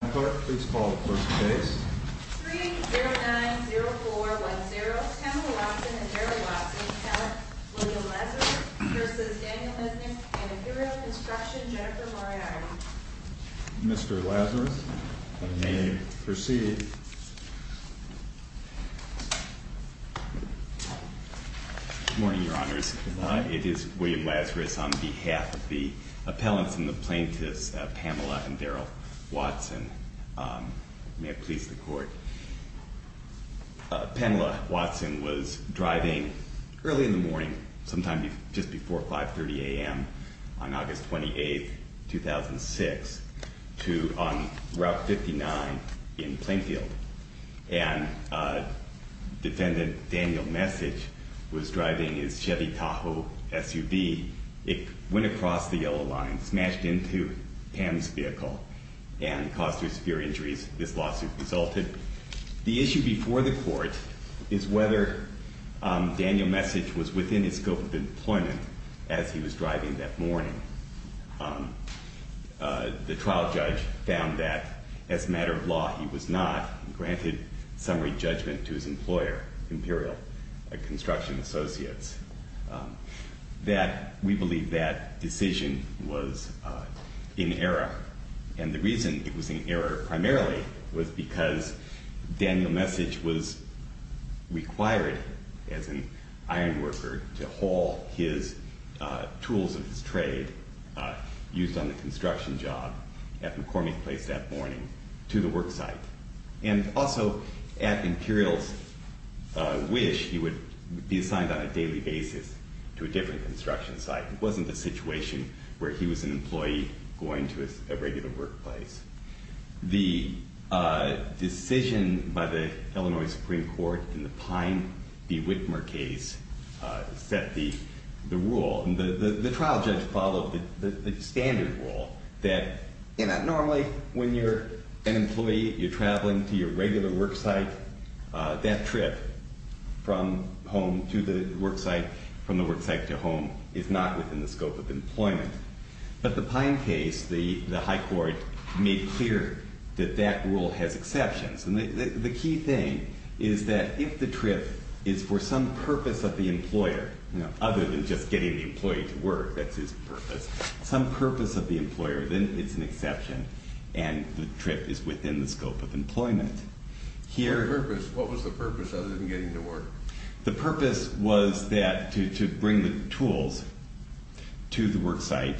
In my part, please call the court's base. 3-090410, Pamela Watson and Daryl Watson, Appellant William Lazarus v. Daniel Lesnick, and Imperial Construction, Jennifer Moriarty. Mr. Lazarus, you may proceed. Good morning, Your Honors. It is William Lazarus on behalf of the May it please the court. Pamela Watson was driving early in the morning, sometime just before 5.30 a.m. on August 28, 2006, on Route 59 in Plainfield, and Defendant Daniel Mesich was driving his Chevy Tahoe SUV. It went across the yellow line, smashed into Pam's vehicle, and caused her severe injuries. This lawsuit resulted. The issue before the court is whether Daniel Mesich was within his scope of employment as he was driving that morning. The trial judge found that, as a matter of law, he was not, and granted summary judgment to his employer, Imperial Construction Associates, that we believe that decision was in error. And the reason it was in error, primarily, was because Daniel Mesich was required, as an ironworker, to haul his tools of his trade, used on the construction job at McCormick Place that morning, to the work site. And also, at Imperial's wish, he would be assigned on a daily basis to a different construction site. It wasn't a situation where he was an employee going to a regular workplace. The decision by the Illinois Supreme Court in the Pine v. Whitmer case set the rule. And the trial judge followed the standard rule that normally, when you're an employee, you're traveling to your regular work site, that trip from home to the work site, from the work site to home, is not within the scope of employment. But the Pine case, the high court made clear that that rule has exceptions. And the key thing is that if the trip is for some purpose of the employer, other than just getting the employee to work, that's his purpose, some purpose of the employer, then it's an exception, and the trip is within the scope of employment. What was the purpose, other than getting him to work? The purpose was that, to bring the tools to the work site.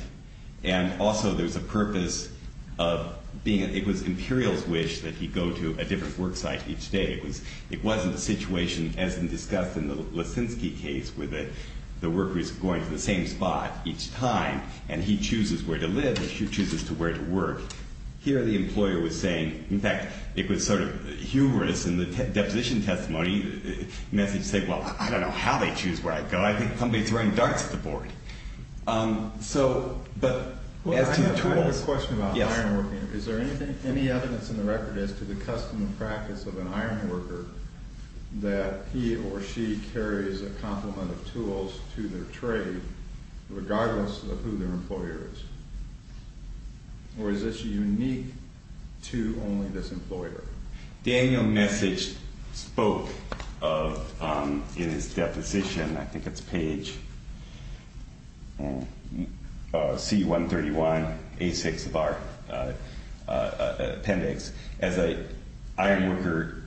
And also, there's a purpose of being, it was Imperial's wish that he go to a different work site each day. It wasn't a situation, as discussed in the Leszczynski case, where the worker's going to the same spot each time, and he chooses where to live, and she chooses where to work. Here, the employer was saying, in fact, it was sort of humorous in the deposition testimony, the message said, well, I don't know how they choose where I go. I think somebody's throwing darts at the board. So, but as to the tools... I have a question about ironworking. Is there any evidence in the record as to the custom and practice of an ironworker that he or she carries a complement of tools to their trade, regardless of who their employer is? Or is this unique to only this employer? Daniel Messick spoke of, in his deposition, I think it's page C131, A6 of our appendix, as an ironworker,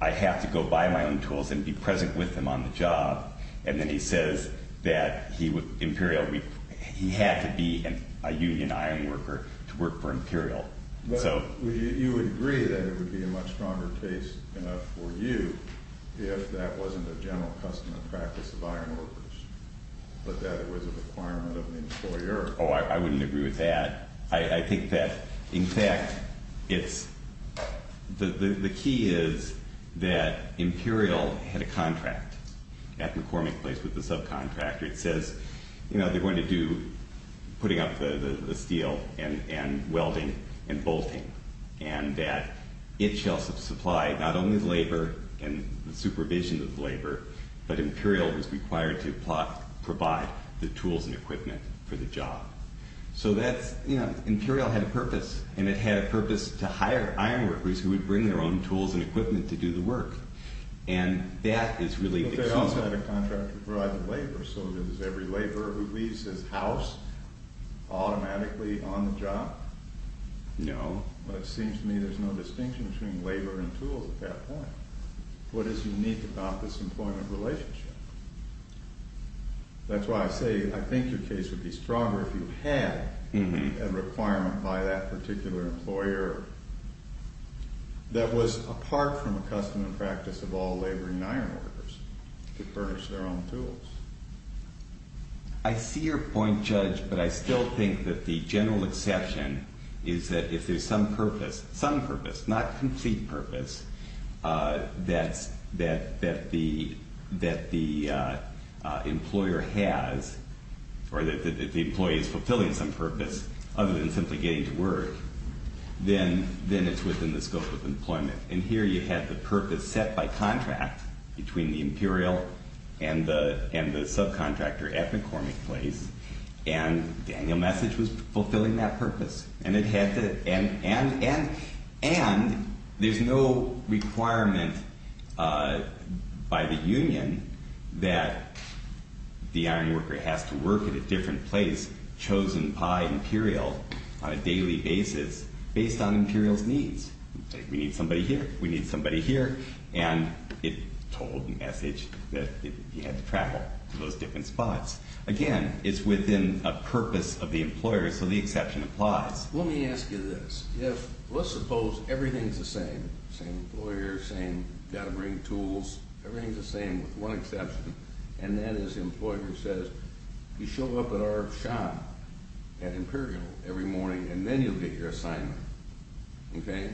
I have to go buy my own tools and be present with them on the job. And then he says that Imperial, he had to be a union ironworker to work for Imperial. You would agree that it would be a much stronger case for you if that wasn't a general custom and practice of ironworkers, but that it was a requirement of the employer. Oh, I wouldn't agree with that. I think that, in fact, it's... The key is that Imperial had a contract at McCormick Place with the subcontractor. It says they're going to do putting up the steel and welding and bolting, and that it shall supply not only the labor and the supervision of the labor, but Imperial was required to provide the tools and equipment for the job. So that's... Imperial had a purpose, and it had a purpose to hire ironworkers who would bring their own tools and equipment to do the work, and that is really... Imperial also had a contract to provide the labor, so does every laborer who leaves his house automatically on the job? No. Well, it seems to me there's no distinction between labor and tools at that point. What is unique about this employment relationship? That's why I say I think your case would be stronger if you had a requirement by that particular employer that was apart from a custom and practice of all labor and ironworkers to furnish their own tools. I see your point, Judge, but I still think that the general exception is that if there's some purpose, some purpose, not complete purpose, that the employer has, or that the employee is fulfilling some purpose then it's within the scope of employment. And here you have the purpose set by contract between the Imperial and the subcontractor at McCormick Place, and Daniel Message was fulfilling that purpose. And it had to... And there's no requirement by the union that the ironworker has to work at a different place chosen by Imperial on a daily basis based on Imperial's needs. We need somebody here, we need somebody here, and it told Message that he had to travel to those different spots. Again, it's within a purpose of the employer, so the exception applies. Let me ask you this. If, let's suppose everything's the same, same employer, same got to bring tools, everything's the same with one exception, and that is the employer says, you show up at our shop at Imperial every morning and then you'll get your assignment, okay?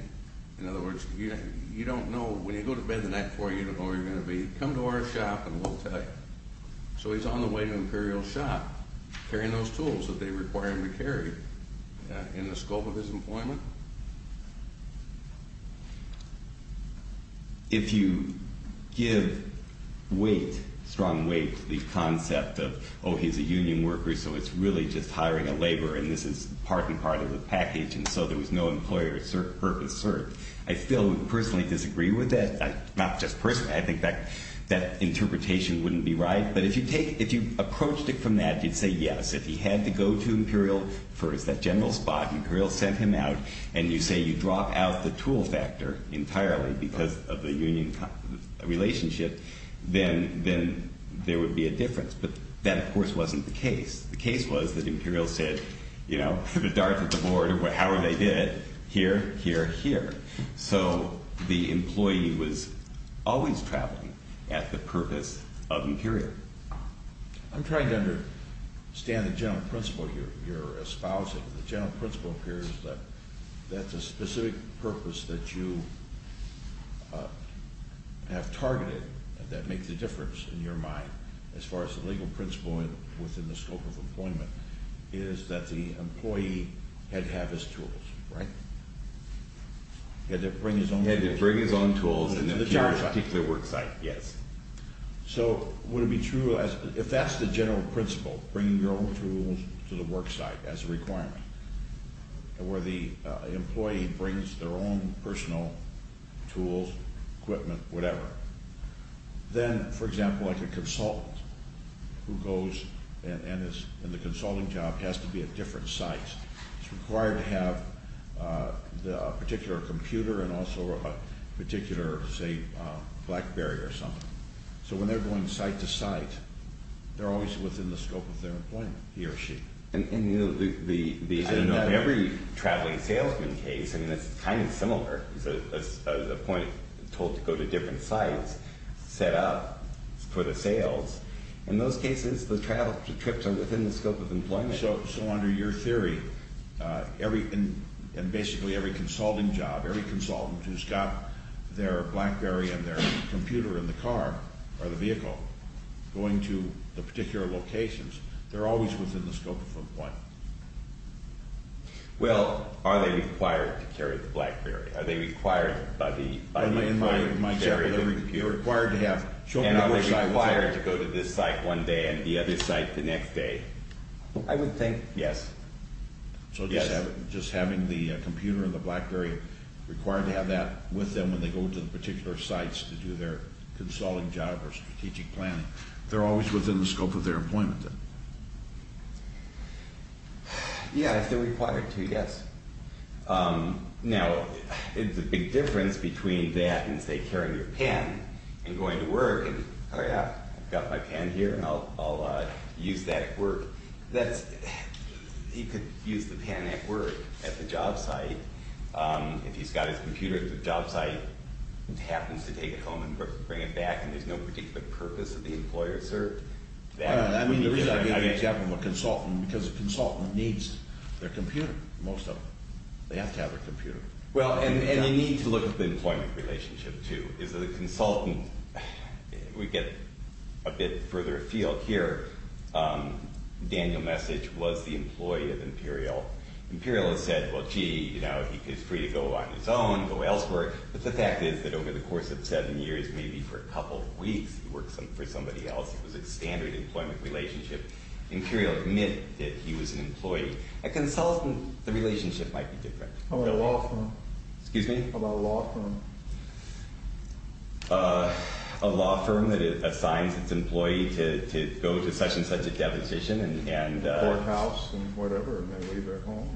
In other words, you don't know, when you go to bed the night before, you don't know where you're going to be. Come to our shop and we'll tell you. So he's on the way to Imperial's shop carrying those tools that they require him to carry in the scope of his employment. If you give weight, strong weight, to the concept of, oh, he's a union worker, so it's really just hiring a laborer, and this is part and part of the package, and so there was no employer purpose served, I still personally disagree with that. Not just personally. I think that interpretation wouldn't be right. But if you approached it from that, you'd say, yes, if he had to go to Imperial for his general spot, Imperial sent him out, and you say you drop out the tool factor entirely because of the union relationship, then there would be a difference. But that, of course, wasn't the case. The case was that Imperial said, you know, put a dart at the board, how are they did, here, here, here. So the employee was always traveling at the purpose of Imperial. I'm trying to understand the general principle here you're espousing. The general principle here is that that's a specific purpose that you have targeted that makes a difference in your mind as far as the legal principle within the scope of employment is that the employee had to have his tools, right? He had to bring his own tools. He had to bring his own tools to the particular work site. Yes. So would it be true, if that's the general principle, bring your own tools to the work site as a requirement, where the employee brings their own personal tools, equipment, whatever, then, for example, like a consultant who goes and is in the consulting job has to be at different sites. It's required to have a particular computer and also a particular, say, BlackBerry or something. So when they're going site to site, they're always within the scope of their employment, he or she. And, you know, every traveling salesman case, I mean, it's kind of similar. It's a point told to go to different sites, set up for the sales, in those cases, the travel trips are within the scope of employment. So under your theory, and basically every consulting job, every consultant who's got their BlackBerry and their computer in the car or the vehicle going to the particular locations, they're always within the scope of employment. Well, are they required to carry the BlackBerry? Are they required by the... And are they required to go to this site one day and the other site the next day? I would think, yes. So just having the computer and the BlackBerry required to have that with them when they go to the particular sites to do their consulting job or strategic planning, they're always within the scope of their employment, then? Yeah, if they're required to, yes. Now, the big difference between that and, say, carrying your pen and going to work, and, oh, yeah, I've got my pen here, and I'll use that at work, that's... He could use the pen at work, at the job site. If he's got his computer at the job site and happens to take it home and bring it back and there's no particular purpose that the employer served, that would be different. I mean, the reason I gave the example of a consultant because a consultant needs their computer, most of them. They have to have a computer. Well, and you need to look at the employment relationship, too. Is that a consultant... We get a bit further afield here. Daniel Message was the employee of Imperial. Imperial has said, well, gee, you know, he's free to go on his own, go elsewhere. But the fact is that over the course of seven years, maybe for a couple of weeks, he worked for somebody else. It was a standard employment relationship. Imperial admit that he was an employee. A consultant, the relationship might be different. How about a law firm? Excuse me? How about a law firm? A law firm that assigns its employee to go to such and such a deposition and... Courthouse and whatever and they leave their home.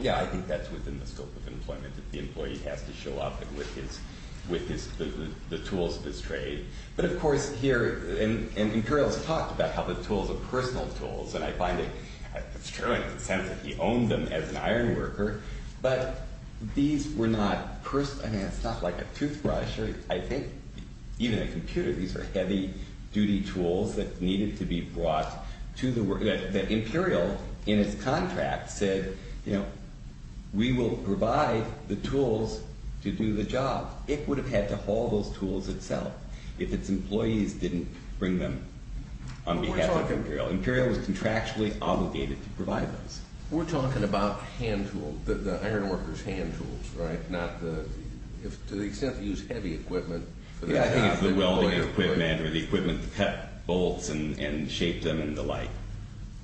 Yeah, I think that's within the scope of employment that the employee has to show up with the tools of his trade. But, of course, here Imperial has talked about how the tools are personal tools and I find it's true in the sense that he owned them as an iron worker. But these were not personal. I mean, it's not like a toothbrush or I think even a computer. These are heavy-duty tools that needed to be brought to the work... that Imperial, in its contract, said, you know, we will provide the tools to do the job. It would have had to haul those tools itself if its employees didn't bring them on behalf of Imperial. Imperial was contractually obligated to provide those. We're talking about hand tools, the iron worker's hand tools, right? Not the... to the extent they use heavy equipment... Yeah, I think it's the welding equipment or the equipment to cut bolts and shape them and the like.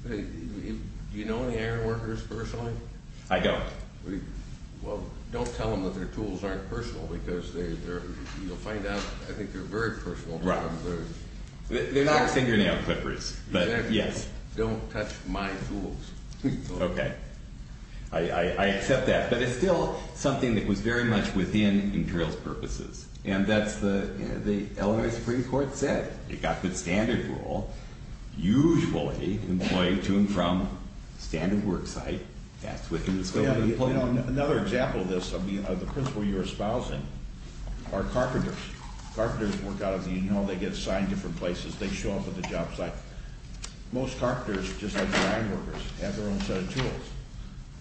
Do you know any iron workers personally? I don't. Well, don't tell them that their tools aren't personal because you'll find out I think they're very personal to them. They're not... They're not senior nail clippers. Exactly. Yes. Don't touch my tools. Okay. I accept that. But it's still something that was very much within Imperial's purposes. And that's the Illinois Supreme Court said. It got the standard rule. Usually, an employee to and from a standard work site, that's within the scope of employment. Another example of this, I mean, of the principal you're espousing, are carpenters. Carpenters work out of the Union Hall. They get assigned different places. They show up at the job site. Most carpenters, just like the iron workers, have their own set of tools.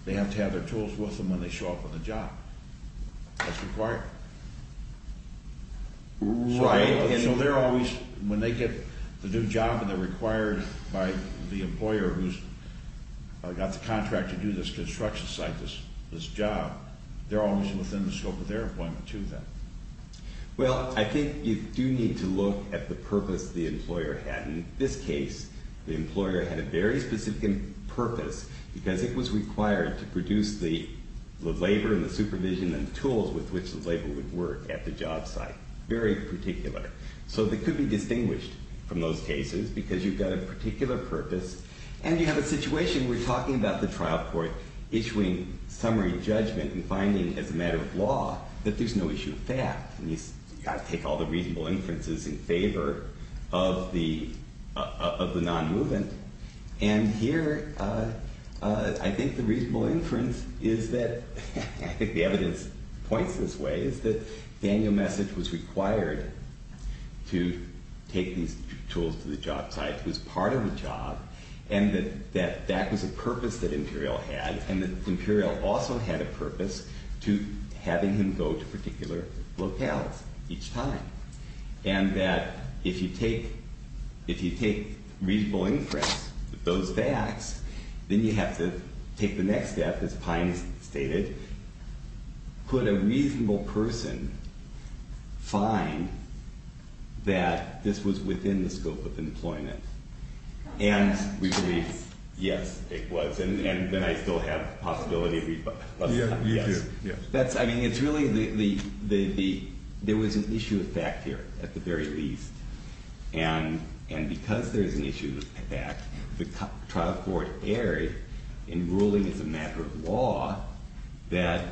They have to have their tools with them when they show up at the job. That's required. Right. So they're always, when they get the new job and they're required by the employer who's got the contract to do this construction site, this job, they're always within the scope of their employment, too, then. Well, I think you do need to look at the purpose the employer had. In this case, the employer had a very specific purpose because it was required to produce the labor and the supervision and the tools with which the labor would work at the job site. Very particular. So they could be distinguished from those cases because you've got a particular purpose. And you have a situation where you're talking about the trial court issuing summary judgment and finding as a matter of law that there's no issue of fact. You've got to take all the reasonable inferences in favor of the non-movement. And here, I think the reasonable inference is that, I think the evidence points this way, is that Daniel Message was required to take these tools to the job site, was part of the job, and that that was a purpose that Imperial had, and that Imperial also had a purpose to having him go to particular locales each time. And that if you take reasonable inference with those facts, then you have to take the next step, as Pines stated, could a reasonable person find that this was within the scope of employment? And we believe, yes, it was. And then I still have the possibility to read both sides. Yes. That's, I mean, it's really the, there was an issue of fact here, at the very least. And because there is an issue of fact, the trial court erred in ruling as a matter of law that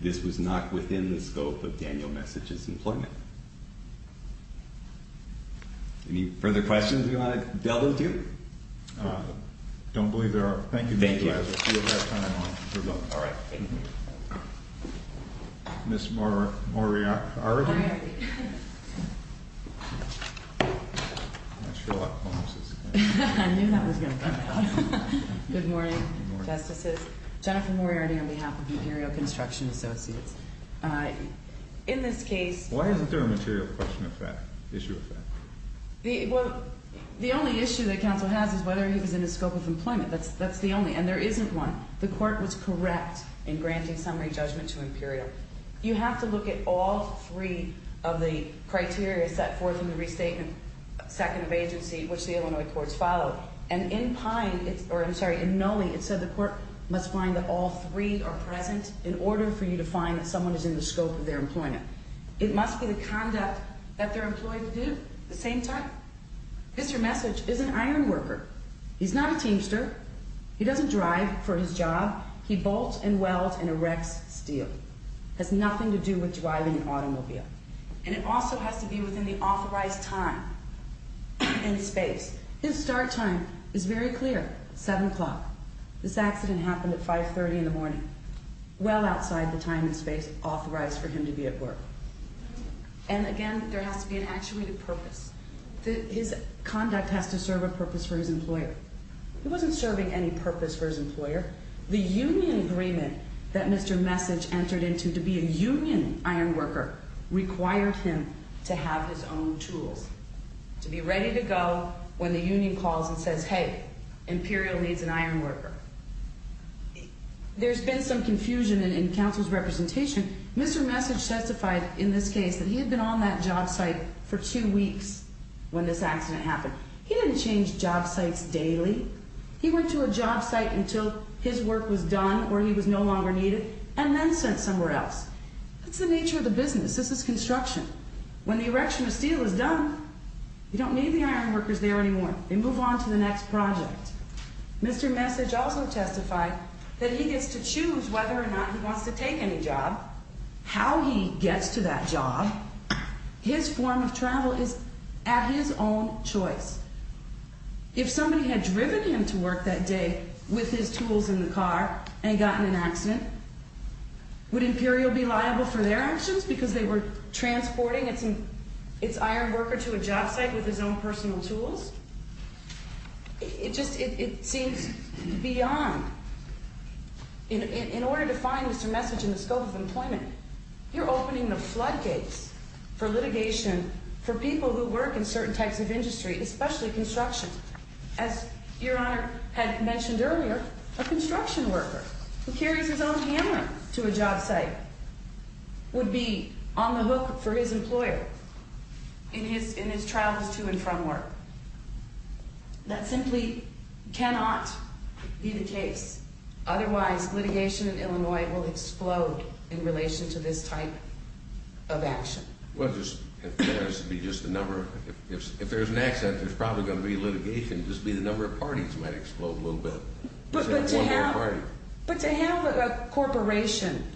this was not within the scope of Daniel Message's employment. Any further questions you want to delve into? I don't believe there are. Thank you. Thank you. All right. Thank you. Ms. Moriarty. All right. I knew that was going to come out. Good morning, Justices. Jennifer Moriarty on behalf of Imperial Construction Associates. In this case, Why isn't there a material question of fact, issue of fact? Well, the only issue that counsel has is whether he was in the scope of employment. That's the only, and there isn't one. The court was correct in granting summary judgment to Imperial. You have to look at all three of the criteria set forth in the restatement, second of agency, which the Illinois courts followed. And in Pine, or I'm sorry, in Noli, it said the court must find that all three are present in order for you to find that someone is in the scope of their employment. It must be the conduct that they're employed to do at the same time. Mr. Message is an iron worker. He's not a teamster. He doesn't drive for his job. He bolts and welds and erects steel. It has nothing to do with driving an automobile. And it also has to be within the authorized time and space. His start time is very clear, 7 o'clock. This accident happened at 5.30 in the morning. Well outside the time and space authorized for him to be at work. And, again, there has to be an actuated purpose. His conduct has to serve a purpose for his employer. He wasn't serving any purpose for his employer. The union agreement that Mr. Message entered into to be a union iron worker required him to have his own tools, to be ready to go when the union calls and says, Hey, Imperial needs an iron worker. There's been some confusion in council's representation. Mr. Message testified in this case that he had been on that job site for two weeks when this accident happened. He didn't change job sites daily. He went to a job site until his work was done or he was no longer needed and then sent somewhere else. That's the nature of the business. This is construction. When the erection of steel is done, you don't need the iron workers there anymore. They move on to the next project. Mr. Message also testified that he gets to choose whether or not he wants to take any job, how he gets to that job. His form of travel is at his own choice. If somebody had driven him to work that day with his tools in the car and gotten in an accident, would Imperial be liable for their actions because they were transporting its iron worker to a job site with his own personal tools? It seems beyond. In order to find Mr. Message in the scope of employment, you're opening the floodgates for litigation for people who work in certain types of industry, especially construction. As Your Honor had mentioned earlier, a construction worker who carries his own hammer to a job site would be on the hook for his employer in his travels to and from work. That simply cannot be the case. Otherwise, litigation in Illinois will explode in relation to this type of action. If there's an accident, there's probably going to be litigation. Just the number of parties might explode a little bit. But to have a corporation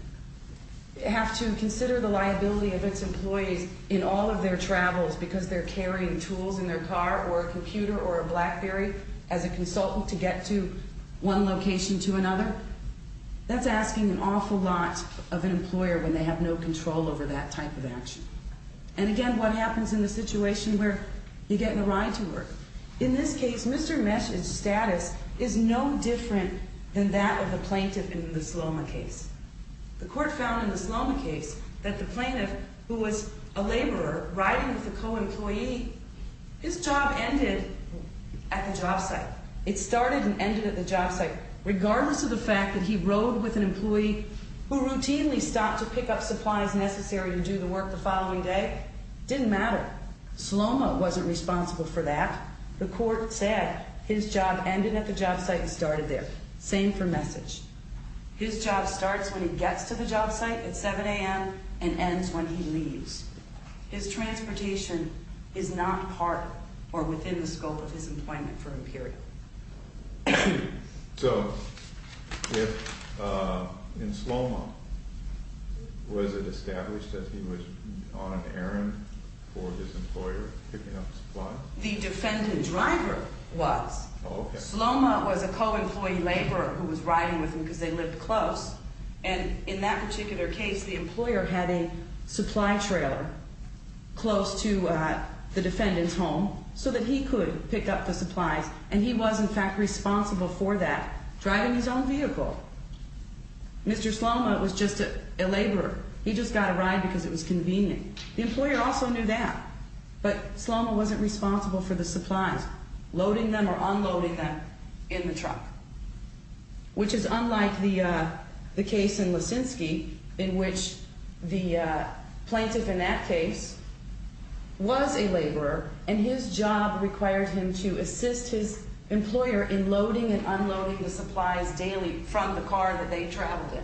have to consider the liability of its employees in all of their travels because they're carrying tools in their car or a computer or a BlackBerry as a consultant to get to one location to another, that's asking an awful lot of an employer when they have no control over that type of action. And again, what happens in the situation where you get in a ride to work? In this case, Mr. Message's status is no different than that of the plaintiff in the Sloma case. The court found in the Sloma case that the plaintiff, who was a laborer riding with a co-employee, his job ended at the job site. It started and ended at the job site, regardless of the fact that he rode with an employee who routinely stopped to pick up supplies necessary to do the work the following day. Didn't matter. Sloma wasn't responsible for that. The court said his job ended at the job site and started there. Same for Message. His job starts when he gets to the job site at 7 a.m. and ends when he leaves. His transportation is not part or within the scope of his employment for him, period. So in Sloma, was it established that he was on an errand for his employer picking up supplies? The defendant driver was. Sloma was a co-employee laborer who was riding with him because they lived close. And in that particular case, the employer had a supply trailer close to the defendant's home so that he could pick up the supplies. And he was, in fact, responsible for that, driving his own vehicle. Mr. Sloma was just a laborer. He just got a ride because it was convenient. The employer also knew that. But Sloma wasn't responsible for the supplies, loading them or unloading them in the truck. Which is unlike the case in Lisinski, in which the plaintiff in that case was a laborer and his job required him to assist his employer in loading and unloading the supplies daily from the car that they traveled in.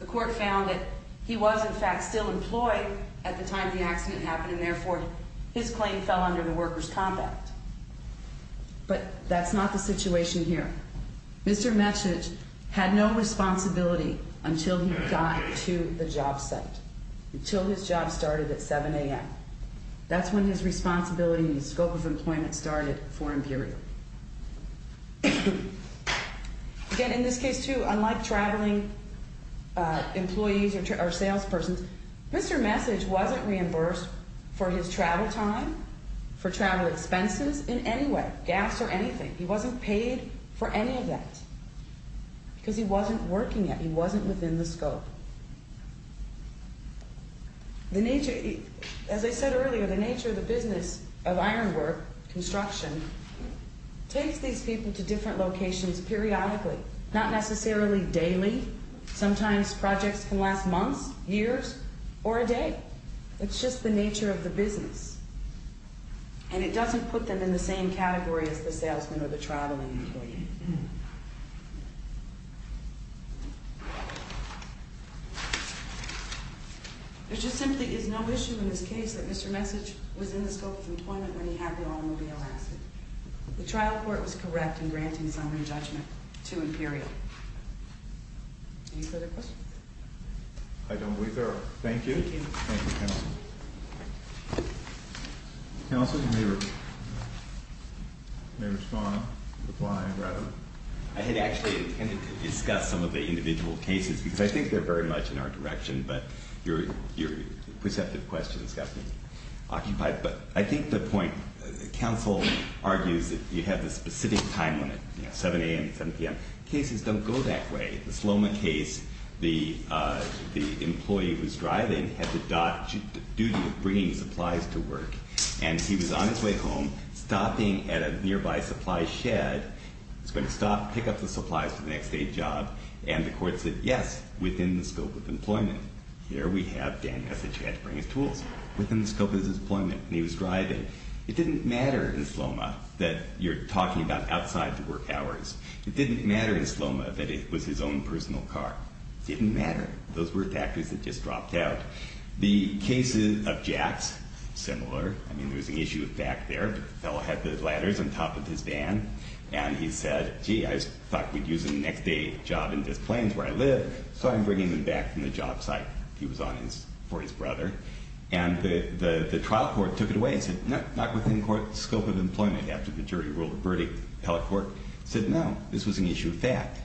The court found that he was, in fact, still employed at the time the accident happened and therefore his claim fell under the worker's compact. But that's not the situation here. Mr. Metchidge had no responsibility until he got to the job site, until his job started at 7 a.m. That's when his responsibility and his scope of employment started for Imperial. Again, in this case, too, unlike traveling employees or salespersons, Mr. Metchidge wasn't reimbursed for his travel time, for travel expenses in any way, gas or anything. He wasn't paid for any of that because he wasn't working yet. He wasn't within the scope. As I said earlier, the nature of the business of ironwork, construction, takes these people to different locations periodically, not necessarily daily. Sometimes projects can last months, years or a day. It's just the nature of the business. And it doesn't put them in the same category as the salesman or the traveling employee. There just simply is no issue in this case that Mr. Metchidge was in the scope of employment when he had the automobile accident. The trial court was correct in granting summary judgment to Imperial. Any further questions? I don't believe there are. Thank you. Thank you, counsel. Counsel, you may respond, reply, rather. I had actually intended to discuss some of the individual cases because I think they're very much in our direction, but your perceptive questions got me occupied. But I think the point, counsel argues that you have the specific time limit, 7 a.m. and 7 p.m. Cases don't go that way. In the Sloma case, the employee who was driving had the duty of bringing supplies to work. And he was on his way home, stopping at a nearby supply shed. He was going to stop, pick up the supplies for the next day's job. And the court said, yes, within the scope of employment. Here we have Daniel Metchidge. He had to bring his tools. Within the scope of his employment. And he was driving. It didn't matter in Sloma that you're talking about outside the work hours. It didn't matter in Sloma that it was his own personal car. It didn't matter. Those were factors that just dropped out. The cases of Jack's, similar. I mean, there was an issue back there. The fellow had the ladders on top of his van. And he said, gee, I thought we'd use the next day job in this place where I live, so I'm bringing them back from the job site. He was on for his brother. And the trial court took it away and said, no, not within court scope of employment. After the jury ruled the verdict, the appellate court said, no, this was an issue of fact.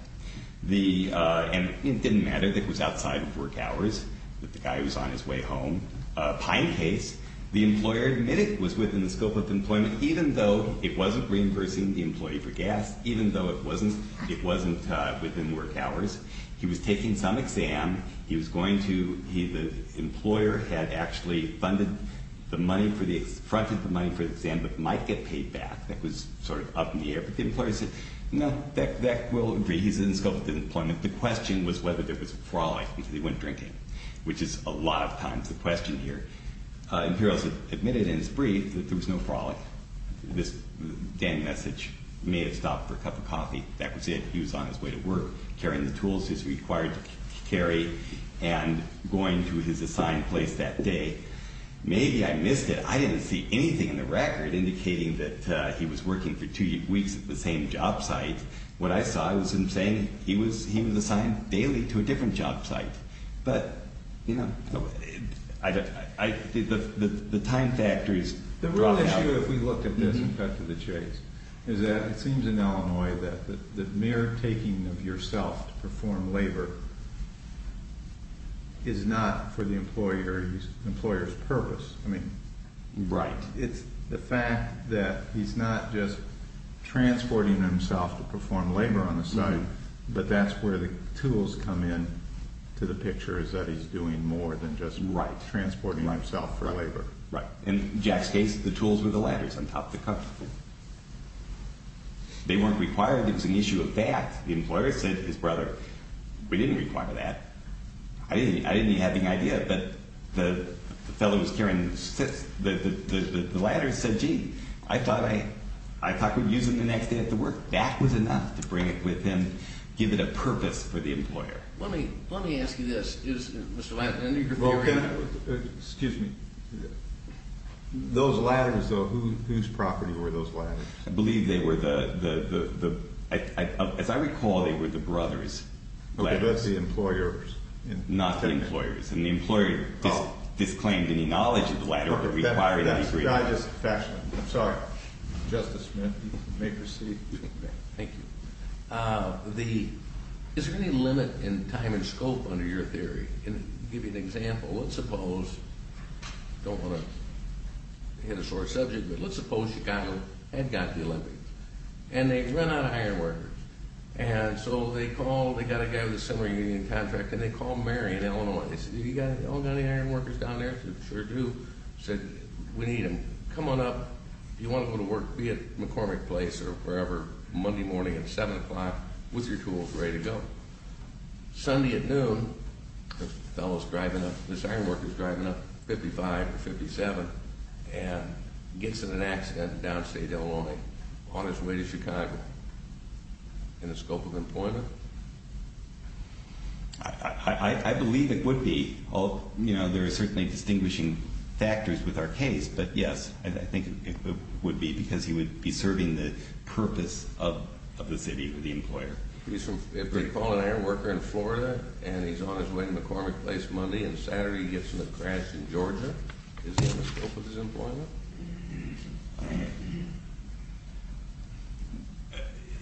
And it didn't matter that it was outside of work hours, that the guy was on his way home. Pine case, the employer admitted it was within the scope of employment, even though it wasn't reimbursing the employee for gas, even though it wasn't within work hours. He was taking some exam. The employer had actually funded the money for the exam but might get paid back. That was sort of up in the air. But the employer said, no, that we'll agree. He's in the scope of employment. The question was whether there was a frolic because he went drinking, which is a lot of times the question here. Imperials admitted in his brief that there was no frolic. This damn message may have stopped for a cup of coffee. That was it. He was on his way to work. Carrying the tools he was required to carry and going to his assigned place that day. Maybe I missed it. I didn't see anything in the record indicating that he was working for two weeks at the same job site. What I saw was him saying he was assigned daily to a different job site. But, you know, the time factors dropped out. The issue, if we look at this and cut to the chase, is that it seems in Illinois that the mere taking of yourself to perform labor is not for the employer's purpose. I mean, it's the fact that he's not just transporting himself to perform labor on the site. But that's where the tools come in to the picture is that he's doing more than just transporting himself for labor. Right. In Jack's case, the tools were the ladders on top of the cup. They weren't required. It was an issue of fact. The employer said to his brother, we didn't require that. I didn't have any idea, but the fellow who was carrying the ladders said, gee, I thought we'd use them the next day at the work. That was enough to bring it with him, give it a purpose for the employer. Let me ask you this. Excuse me. Those ladders, though, whose property were those ladders? I believe they were the ‑‑ as I recall, they were the brother's ladders. The employer's. Not the employer's. And the employer disclaimed any knowledge of the ladder or required any ‑‑ I'm sorry. Justice Smith, you may proceed. Thank you. The ‑‑ is there any limit in time and scope under your theory? I'll give you an example. Let's suppose ‑‑ I don't want to hit a sore subject, but let's suppose Chicago had got the Olympics. And they'd run out of iron workers. And so they called, they got a guy with a similar union contract, and they called Mary in Illinois. They said, you got any iron workers down there? She said, sure do. Said, we need them. Come on up. If you want to go to work, be it McCormick Place or wherever, Monday morning at 7 o'clock, with your tools, ready to go. Sunday at noon, this fellow is driving up, this iron worker is driving up 55 or 57, and gets in an accident in downstate Illinois on his way to Chicago. In the scope of employment? I believe it would be. You know, there are certainly distinguishing factors with our case. But, yes, I think it would be, because he would be serving the purpose of the city, the employer. If they call an iron worker in Florida, and he's on his way to McCormick Place Monday, and Saturday he gets in a crash in Georgia, is he in the scope of his employment?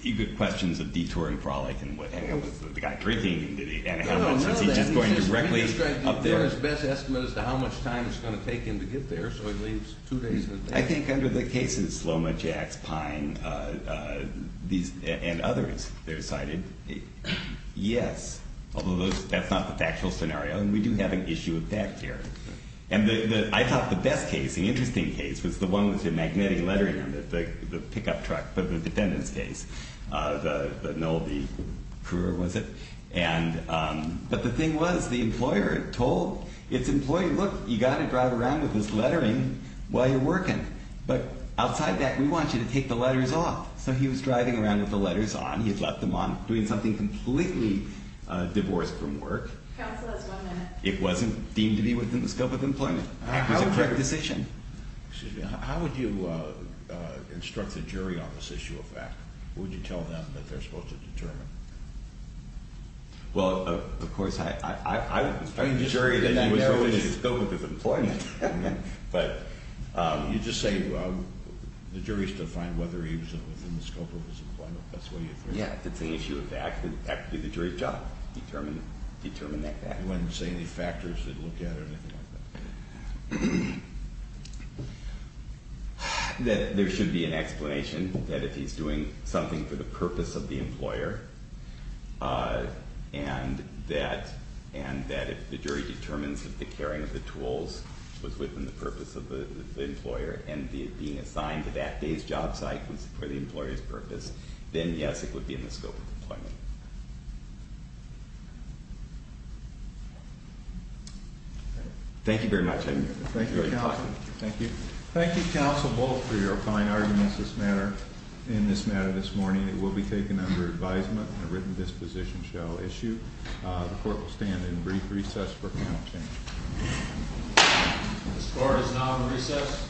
You get questions of detour and frolic, and what happens with the guy drinking, and how much is he just going directly up there. The employer's best estimate as to how much time it's going to take him to get there, so he leaves two days in advance. I think under the cases, Sloma, Jax, Pine, and others, they're cited. Yes. Although that's not the factual scenario, and we do have an issue with that here. And I thought the best case, the interesting case, was the one with the magnetic lettering on it, the pickup truck, the defendant's case, the Nolby career, was it? But the thing was, the employer told its employee, look, you've got to drive around with this lettering while you're working. But outside that, we want you to take the letters off. So he was driving around with the letters on. He had left them on, doing something completely divorced from work. Counsel has one minute. It wasn't deemed to be within the scope of employment. It was a correct decision. Excuse me. How would you instruct the jury on this issue of fact? What would you tell them that they're supposed to determine? Well, of course, I would tell the jury that he was within the scope of his employment. But you just say, well, the jury's to find whether he was within the scope of his employment. That's what you'd say. Yeah, if it's an issue of fact, it would be the jury's job to determine that fact. You wouldn't say any factors they'd look at or anything like that? There should be an explanation that if he's doing something for the purpose of the employer and that if the jury determines that the carrying of the tools was within the purpose of the employer and being assigned to that day's job site was for the employer's purpose, then, yes, it would be in the scope of employment. Thank you. Thank you very much. Thank you, counsel. Thank you. Thank you, counsel, both, for your fine arguments in this matter this morning. It will be taken under advisement. A written disposition shall issue. The court will stand in brief recess for panel change. The court is now in recess.